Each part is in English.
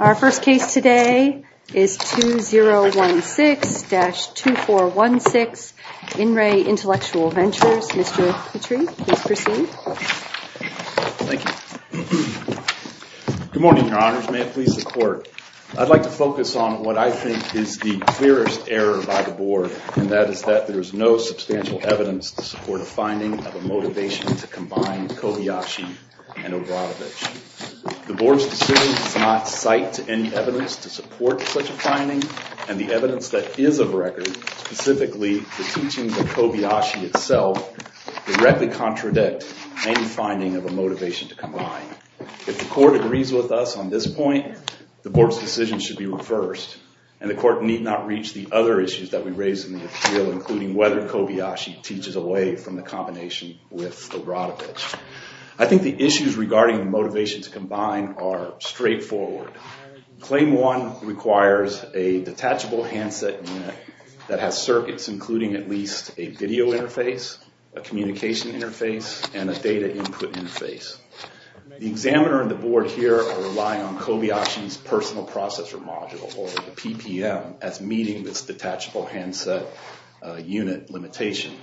Our first case today is 2016-2416 In Re Intellectual Ventures. Mr. Petrie, please proceed. Thank you. Good morning, your honors. May it please the court. I'd like to focus on what I think is the clearest error by the board, and that is that there is no substantial evidence to support a finding of a motivation to combine Kohayashi and Obradovich. The board's decision does not cite any evidence to support such a finding, and the evidence that is of record, specifically the teaching of Kohayashi itself, directly contradict any finding of a motivation to combine. If the court agrees with us on this point, the board's decision should be reversed, and the court need not reach the other issues that we raised in the appeal, including whether Kohayashi teaches away from the combination with Obradovich. I think the issues regarding the motivation to combine are straightforward. Claim one requires a detachable handset unit that has circuits, including at least a video interface, a communication interface, and a data input interface. The examiner and the board here are relying on Kohayashi's personal processor module, or the PPM, as meeting this detachable handset unit limitation.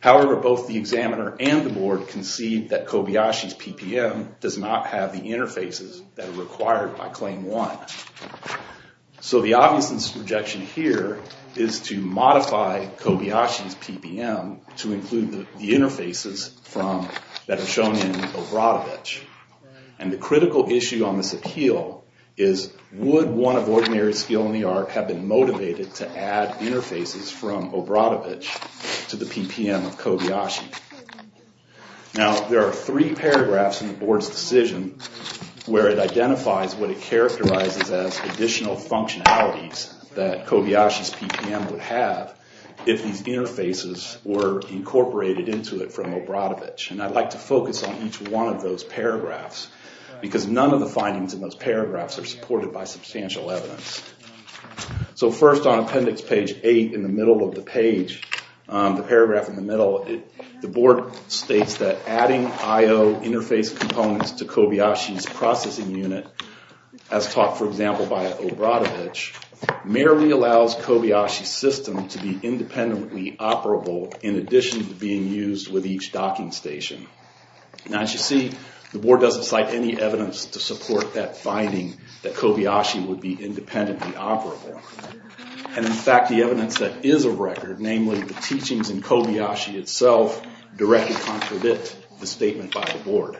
However, both the examiner and the board concede that Kohayashi's PPM does not have the interfaces that are required by claim one. So the obvious objection here is to modify Kohayashi's PPM to include the interfaces that are shown in Obradovich. And the critical issue on this appeal is, would one of ordinary skill in the art have been motivated to add interfaces from Obradovich to the PPM of Kohayashi? Now, there are three paragraphs in the board's decision where it identifies what it characterizes as additional functionalities that Kohayashi's PPM would have if these interfaces were incorporated into it from Obradovich. And I'd like to focus on each one of those paragraphs, because none of the findings in those paragraphs are supported by substantial evidence. So first on appendix page eight in the middle of the page, the paragraph in the middle, the board states that adding IO interface components to Kohayashi's processing unit, as taught, for example, by Obradovich, merely allows Kohayashi's system to be independently operable in addition to being used with each docking station. Now, as you see, the board doesn't cite any evidence to support that finding, that Kohayashi would be independently operable. And in fact, the evidence that is of record, namely the teachings in Kohayashi itself, directly contradict the statement by the board.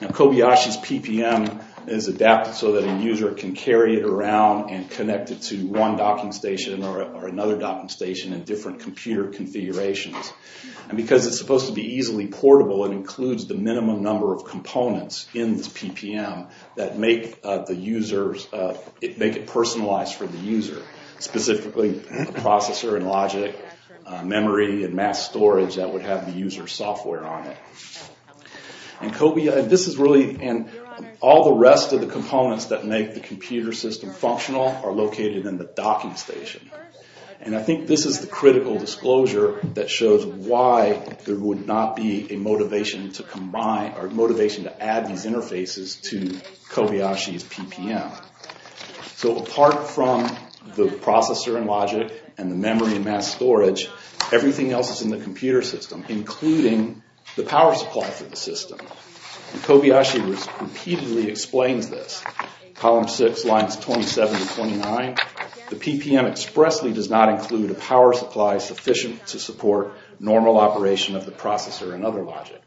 Now, Kohayashi's PPM is adapted so that a user can carry it around and connect it to one docking station or another docking station in different computer configurations. And because it's supposed to be easily portable, it includes the minimum number of components in this PPM that make it personalized for the user, specifically processor and logic, memory, and mass storage that would have the user's software on it. And all the rest of the components that make the computer system functional are located in the docking station. And I think this is the critical disclosure that shows why there would not be a motivation to add these interfaces to Kohayashi's PPM. So apart from the processor and logic and the memory and mass storage, everything else is in the computer system, including the power supply for the system. And Kohayashi repeatedly explains this. Column 6, lines 27 to 29, the PPM expressly does not include a power supply sufficient to support normal operation of the processor and other logic.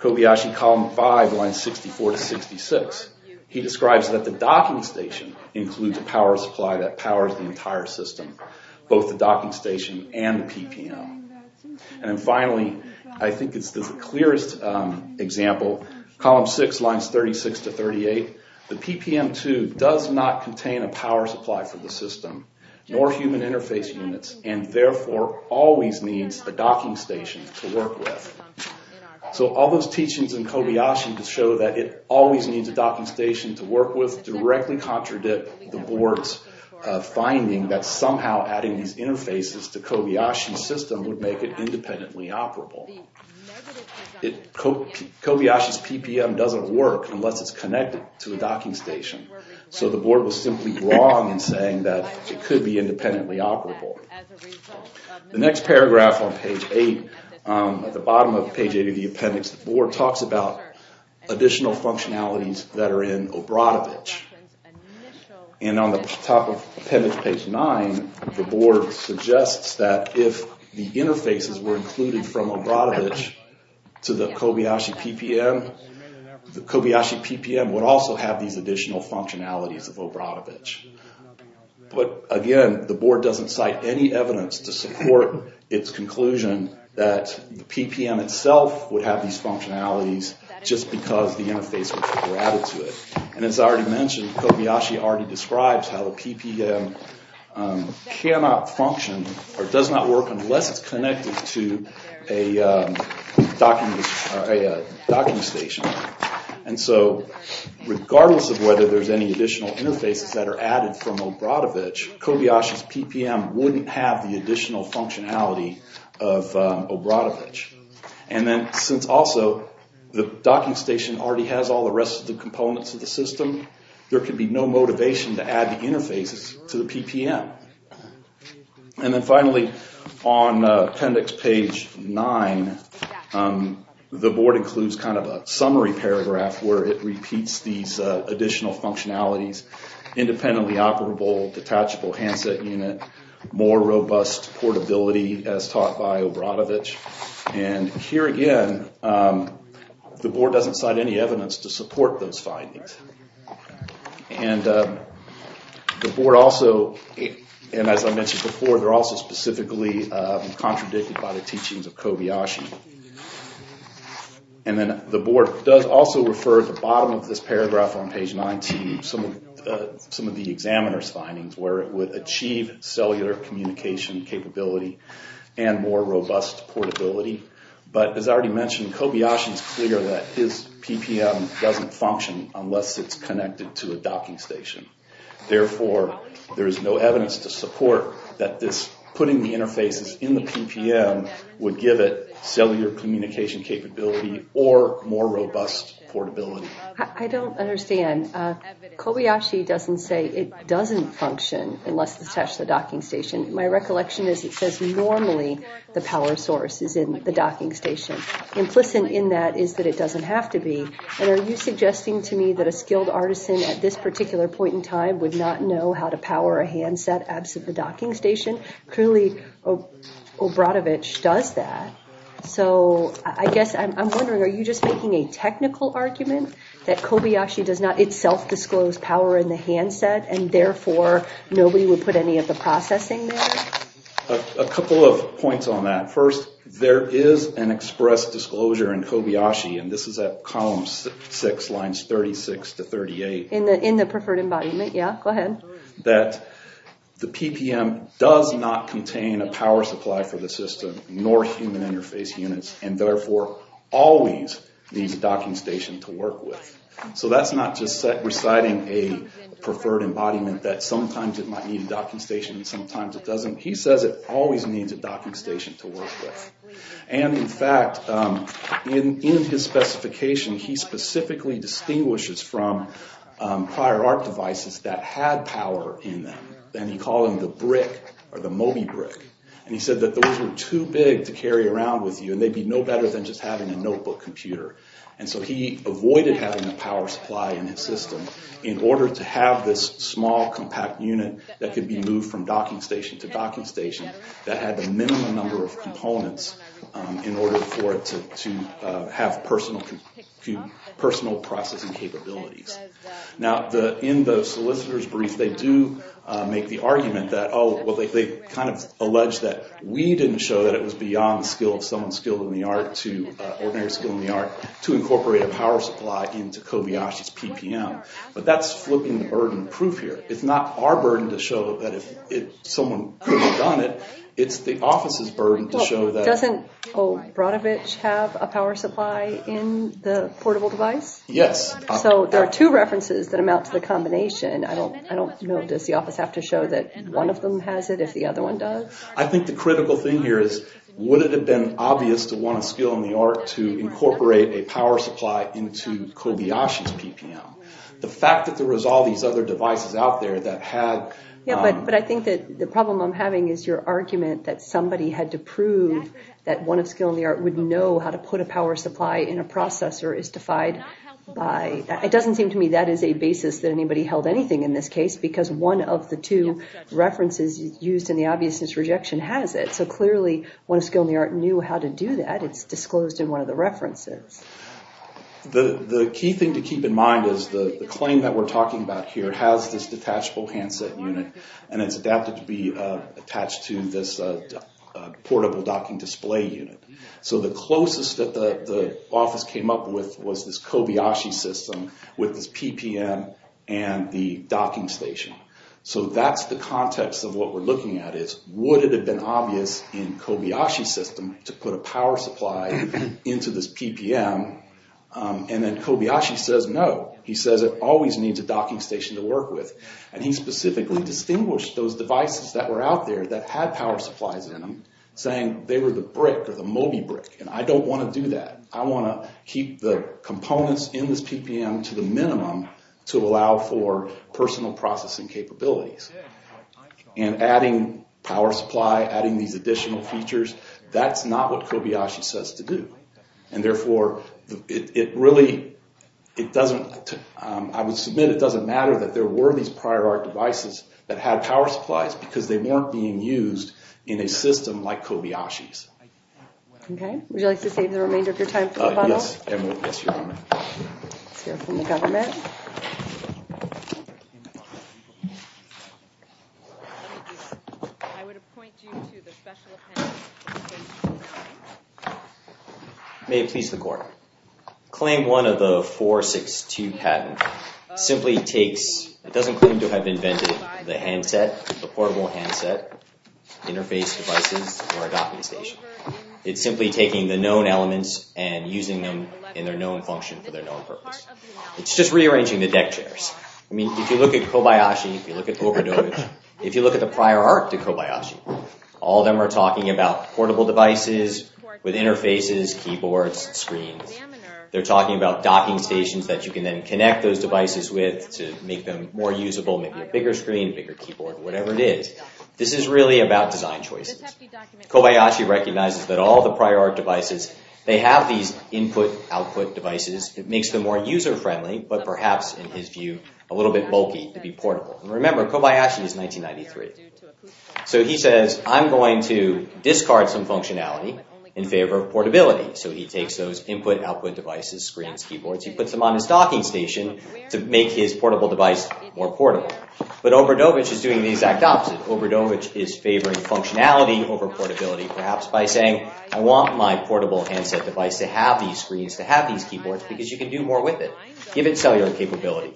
Kohayashi, column 5, lines 64 to 66. He describes that the docking station includes a power supply that powers the entire system, both the docking station and the PPM. And finally, I think it's the clearest example, column 6, lines 36 to 38, the PPM2 does not contain a power supply for the system, nor human interface units, and therefore always needs a docking station to work with. So all those teachings in Kohayashi to show that it always needs a docking station to work with directly contradict the board's finding that somehow adding these interfaces to Kohayashi's system would make it independently operable. Kohayashi's PPM doesn't work unless it's connected to a docking station. So the board was simply wrong in saying that it could be independently operable. The next paragraph on page 8, at the bottom of page 8 of the appendix, the board talks about additional functionalities that are in Obradovich. And on the top of appendix page 9, the board suggests that if the interfaces were included from Obradovich to the Kohayashi PPM, the Kohayashi PPM would also have these additional functionalities of Obradovich. But again, the board doesn't cite any evidence to support its conclusion that the PPM itself would have these functionalities just because the interfaces were added to it. And as I already mentioned, Kohayashi already describes how the PPM cannot function or does not work unless it's connected to a docking station. And so regardless of whether there's any additional interfaces that are added from Obradovich, Kohayashi's PPM wouldn't have the additional functionality of Obradovich. And then since also the docking station already has all the rest of the components of the system, there could be no motivation to add the interfaces to the PPM. And then finally, on appendix page 9, the board includes kind of a summary paragraph where it repeats these additional functionalities. Independently operable, detachable handset unit, more robust portability as taught by Obradovich. And here again, the board doesn't cite any evidence to support those findings. And the board also, and as I mentioned before, they're also specifically contradicted by the teachings of Kohayashi. And then the board does also refer at the bottom of this paragraph on page 9 to some of the examiner's findings where it would achieve cellular communication capability and more robust portability. But as I already mentioned, Kohayashi's clear that his PPM doesn't function unless it's connected to a docking station. Therefore, there is no evidence to support that this putting the interfaces in the PPM would give it cellular communication capability or more robust portability. I don't understand. Kohayashi doesn't say it doesn't function unless it's attached to the docking station. My recollection is it says normally the power source is in the docking station. Implicit in that is that it doesn't have to be. And are you suggesting to me that a skilled artisan at this particular point in time would not know how to power a handset absent the docking station? Clearly, Obradovich does that. So I guess I'm wondering, are you just making a technical argument that Kohayashi does not itself disclose power in the handset and therefore nobody would put any of the processing there? A couple of points on that. First, there is an express disclosure in Kohayashi, and this is at column 6, lines 36 to 38. In the preferred embodiment? Yeah, go ahead. That the PPM does not contain a power supply for the system nor human interface units and therefore always needs a docking station to work with. So that's not just reciting a preferred embodiment that sometimes it might need a docking station and sometimes it doesn't. He says it always needs a docking station to work with. And in fact, in his specification, he specifically distinguishes from prior art devices that had power in them. And he called them the brick or the Moby brick. And he said that those were too big to carry around with you and they'd be no better than just having a notebook computer. And so he avoided having a power supply in his system in order to have this small, compact unit that could be moved from docking station to docking station. That had the minimum number of components in order for it to have personal processing capabilities. Now, in the solicitor's brief, they do make the argument that, oh, well, they kind of allege that we didn't show that it was beyond the skill of someone skilled in the art to ordinary skill in the art to incorporate a power supply into Kohayashi's PPM. But that's flipping the burden of proof here. It's not our burden to show that someone could have done it. It's the office's burden to show that. Doesn't O. Brodovich have a power supply in the portable device? Yes. So there are two references that amount to the combination. I don't know. Does the office have to show that one of them has it if the other one does? I think the critical thing here is, would it have been obvious to one of skill in the art to incorporate a power supply into Kohayashi's PPM? The fact that there was all these other devices out there that had... Yeah, but I think that the problem I'm having is your argument that somebody had to prove that one of skill in the art would know how to put a power supply in a processor is defied by... It doesn't seem to me that is a basis that anybody held anything in this case because one of the two references used in the obviousness rejection has it. So clearly, one of skill in the art knew how to do that. It's disclosed in one of the references. The key thing to keep in mind is the claim that we're talking about here has this detachable handset unit and it's adapted to be attached to this portable docking display unit. So the closest that the office came up with was this Kohayashi system with this PPM and the docking station. So that's the context of what we're looking at is, would it have been obvious in Kohayashi's system to put a power supply into this PPM? And then Kohayashi says no. He says it always needs a docking station to work with. And he specifically distinguished those devices that were out there that had power supplies in them, saying they were the brick or the Moby brick. And I don't want to do that. I want to keep the components in this PPM to the minimum to allow for personal processing capabilities. And adding power supply, adding these additional features, that's not what Kohayashi says to do. And therefore, it really, it doesn't, I would submit it doesn't matter that there were these prior art devices that had power supplies because they weren't being used in a system like Kohayashi's. Okay, would you like to save the remainder of your time for the final? Yes, your honor. Let's hear from the government. May it please the court. Claim one of the 462 patent simply takes, it doesn't claim to have invented the handset, the portable handset, interface devices, or a docking station. It's simply taking the known elements and using them in their known function for their known purpose. It's just rearranging the deck chairs. I mean, if you look at Kohayashi, if you look at the prior art to Kohayashi, all of them are talking about portable devices with interfaces, keyboards, screens. They're talking about docking stations that you can then connect those devices with to make them more usable, maybe a bigger screen, bigger keyboard, whatever it is. This is really about design choices. Kohayashi recognizes that all the prior art devices, they have these input-output devices. It makes them more user-friendly, but perhaps, in his view, a little bit bulky to be portable. Remember, Kohayashi is 1993. So he says, I'm going to discard some functionality in favor of portability. So he takes those input-output devices, screens, keyboards, he puts them on his docking station to make his portable device more portable. But Obradovich is doing the exact opposite. Obradovich is favoring functionality over portability, perhaps by saying, I want my portable handset device to have these screens, to have these keyboards, because you can do more with it. Give it cellular capability.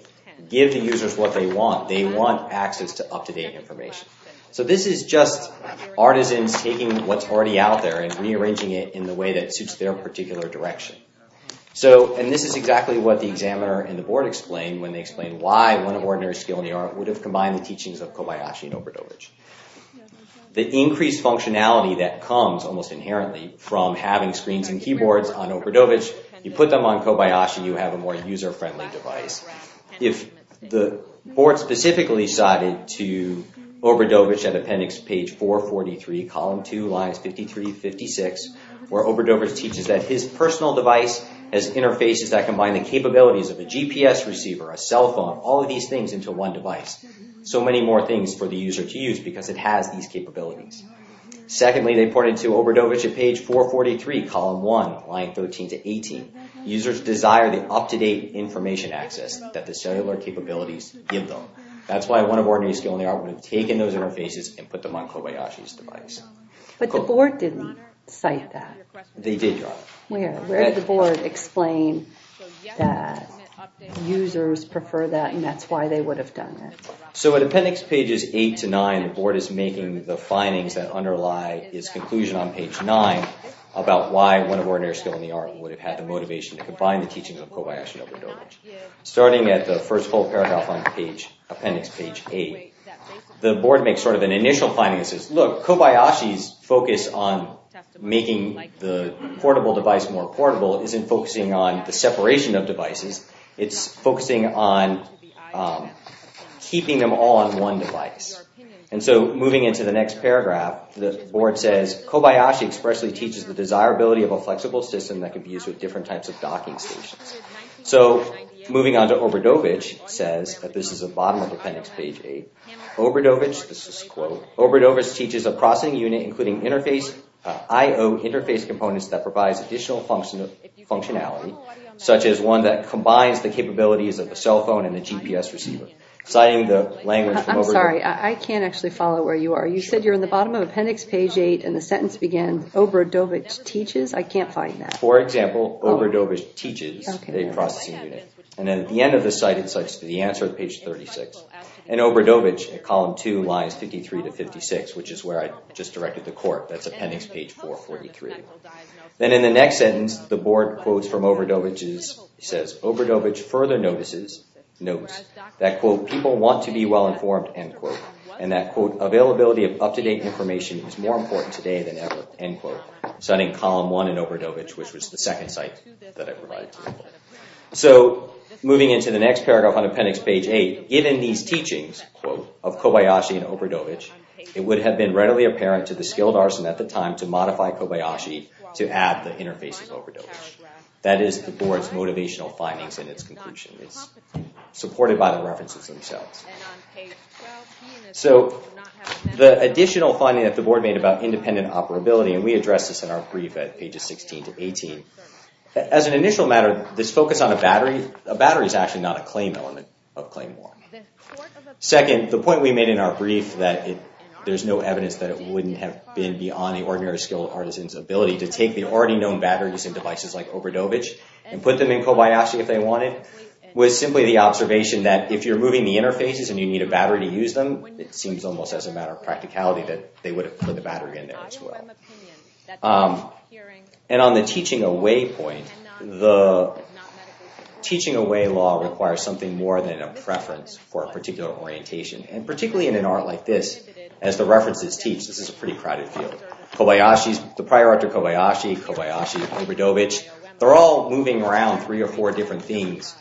Give the users what they want. They want access to up-to-date information. So this is just artisans taking what's already out there and rearranging it in the way that suits their particular direction. And this is exactly what the examiner and the board explained when they explained why one ordinary skill in the art would have combined the teachings of Kohayashi and Obradovich. The increased functionality that comes, almost inherently, from having screens and keyboards on Obradovich, you put them on Kohayashi, you have a more user-friendly device. If the board specifically cited to Obradovich at appendix page 443, column 2, lines 53-56, where Obradovich teaches that his personal device has interfaces that combine the capabilities of a GPS receiver, a cell phone, all of these things into one device. So many more things for the user to use because it has these capabilities. Secondly, they pointed to Obradovich at page 443, column 1, line 13-18. Users desire the up-to-date information access that the cellular capabilities give them. That's why one ordinary skill in the art would have taken those interfaces and put them on Kohayashi's device. But the board didn't cite that. They did, Your Honor. Where did the board explain that users prefer that and that's why they would have done that? So at appendix pages 8-9, the board is making the findings that underlie its conclusion on page 9 about why one ordinary skill in the art would have had the motivation to combine the teachings of Kohayashi and Obradovich. Starting at the first whole paragraph on appendix page 8, the board makes sort of an initial finding that says, look, Kohayashi's focus on making the portable device more portable isn't focusing on the separation of devices. It's focusing on keeping them all on one device. And so moving into the next paragraph, the board says, Kohayashi expressly teaches the desirability of a flexible system that could be used with different types of docking stations. So moving on to Obradovich, it says, at the bottom of appendix page 8, Obradovich, this is a quote, Obradovich teaches a processing unit including I-O interface components that provides additional functionality, such as one that combines the capabilities of a cell phone and a GPS receiver. Citing the language from Obradovich. I'm sorry, I can't actually follow where you are. You said you're in the bottom of appendix page 8 and the sentence began, Obradovich teaches? I can't find that. For example, Obradovich teaches a processing unit. And then at the end of the site it says, the answer is page 36. And Obradovich at column 2 lies 53 to 56, which is where I just directed the court. That's appendix page 443. Then in the next sentence, the board quotes from Obradovich, it says, Obradovich further notices, notes, that quote, people want to be well-informed, end quote. And that quote, availability of up-to-date information is more important today than ever, end quote. Citing column 1 in Obradovich, which was the second site that I provided. So, moving into the next paragraph on appendix page 8, given these teachings, quote, of Kobayashi and Obradovich, it would have been readily apparent to the skilled arson at the time to modify Kobayashi to add the interface of Obradovich. That is the board's motivational findings in its conclusion. It's supported by the references themselves. So, the additional finding that the board made about independent operability, and we addressed this in our brief at pages 16 to 18, as an initial matter, this focus on a battery, a battery is actually not a claim element of claim war. Second, the point we made in our brief, that there's no evidence that it wouldn't have been beyond the ordinary skilled artisan's ability to take the already known batteries and devices like Obradovich and put them in Kobayashi if they wanted, was simply the observation that if you're moving the interfaces and you need a battery to use them, it seems almost as a matter of practicality that they would have put the battery in there as well. And on the teaching away point, the teaching away law requires something more than a preference for a particular orientation. And particularly in an art like this, as the references teach, this is a pretty crowded field. Kobayashi's, the prior art of Kobayashi, Kobayashi, Obradovich, they're all moving around three or four different things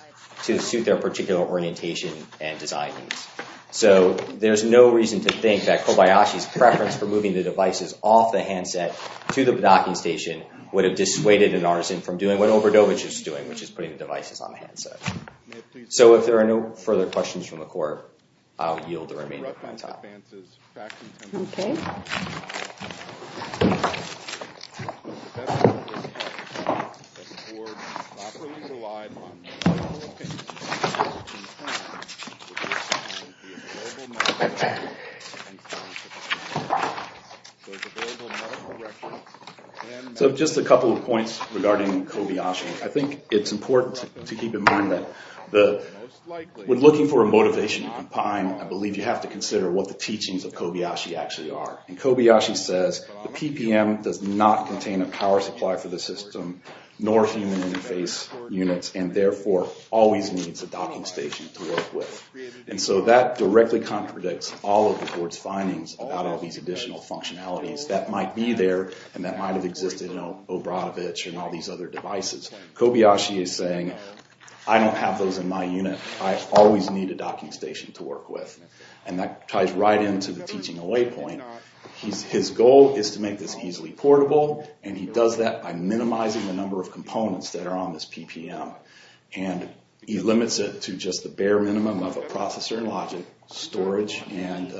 to suit their particular orientation and design needs. So, there's no reason to think that Kobayashi's preference for moving the devices off the handset to the docking station would have dissuaded an artisan from doing what Obradovich is doing, which is putting the devices on the handset. So, if there are no further questions from the court, I'll yield the remaining time. So, just a couple of points regarding Kobayashi. I think it's important to keep in mind that when looking for a motivation to compine, I believe you have to consider what the teachings of Kobayashi actually are. And Kobayashi says, the PPM does not contain a power supply for the system, nor human interface units, and therefore always needs a docking station to work with. And so, that directly contradicts all of the court's findings about all these additional points. All these additional functionalities that might be there, and that might have existed in Obradovich and all these other devices. Kobayashi is saying, I don't have those in my unit. I always need a docking station to work with. And that ties right into the teaching away point. His goal is to make this easily portable, and he does that by minimizing the number of components that are on this PPM. And he limits it to just the bare minimum of a processor and logic, storage, and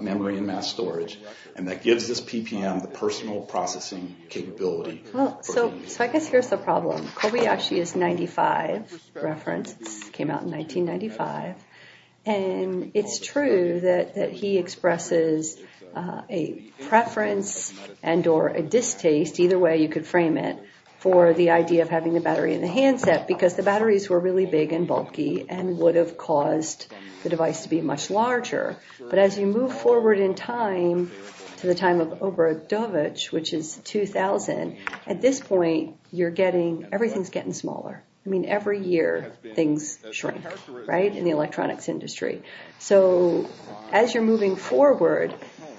memory, and mass storage. And that gives this PPM the personal processing capability. Well, so I guess here's the problem. Kobayashi is a 1995 reference. It came out in 1995. And it's true that he expresses a preference and or a distaste, either way you could frame it, for the idea of having the battery in the handset. Because the batteries were really big and bulky, and would have caused the device to be much larger. But as you move forward in time, to the time of Obradovich, which is 2000, at this point, you're getting, everything's getting smaller. I mean, every year things shrink, right, in the electronics industry. So, as you're moving forward,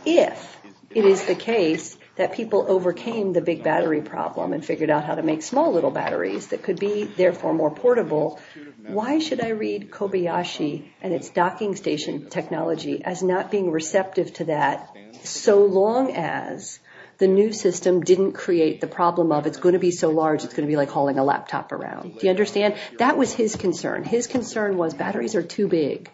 if it is the case that people overcame the big battery problem and figured out how to make small little batteries that could be, therefore, more portable, you've got to read Kobayashi and its docking station technology as not being receptive to that, so long as the new system didn't create the problem of, it's going to be so large, it's going to be like hauling a laptop around. Do you understand? That was his concern. His concern was, batteries are too big.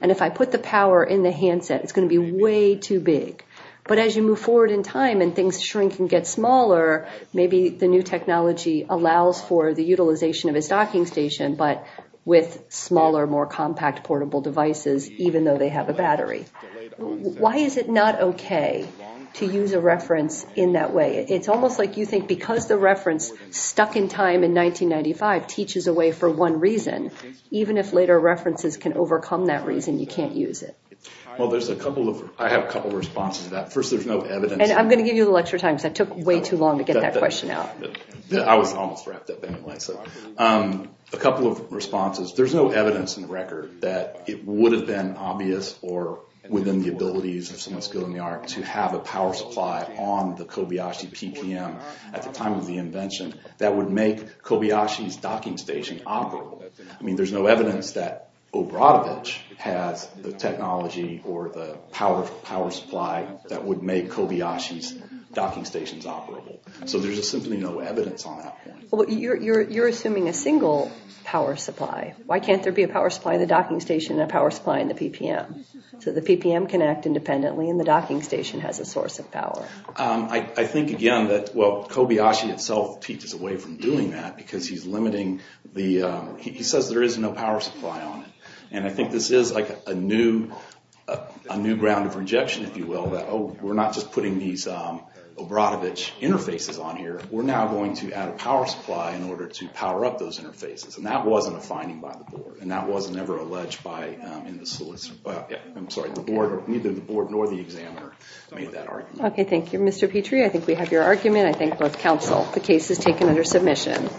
And if I put the power in the handset, it's going to be way too big. But as you move forward in time and things shrink and get smaller, maybe the new technology allows for the utilization of his docking station, but with smaller, more compact, portable devices, even though they have a battery. Why is it not okay to use a reference in that way? It's almost like you think because the reference stuck in time in 1995 teaches a way for one reason, even if later references can overcome that reason, you can't use it. Well, there's a couple of, I have a couple of responses to that. First, there's no evidence. And I'm going to give you the lecture time because that took way too long to get that question out. I was almost wrapped up anyway. A couple of responses. There's no evidence in the record that it would have been obvious or within the abilities of someone skilled in the art to have a power supply on the Kobayashi PPM at the time of the invention that would make Kobayashi's docking station operable. I mean, there's no evidence that Obradovich has the technology or the power supply that would make Kobayashi's docking stations operable. So there's simply no evidence on that point. You're assuming a single power supply. Why can't there be a power supply in the docking station and a power supply in the PPM? So the PPM can act independently and the docking station has a source of power. I think, again, that Kobayashi itself teaches a way from doing that because he's limiting the, he says there is no power supply on it. And I think this is like a new ground of rejection, if you will, that we're not just putting these Obradovich interfaces on here. We're now going to add a power supply in order to power up those interfaces. And that wasn't a finding by the board. And that was never alleged by the solicitor. I'm sorry, neither the board nor the examiner made that argument. Okay, thank you. Mr. Petrie, I think we have your argument. I thank both counsel. The case is taken under submission.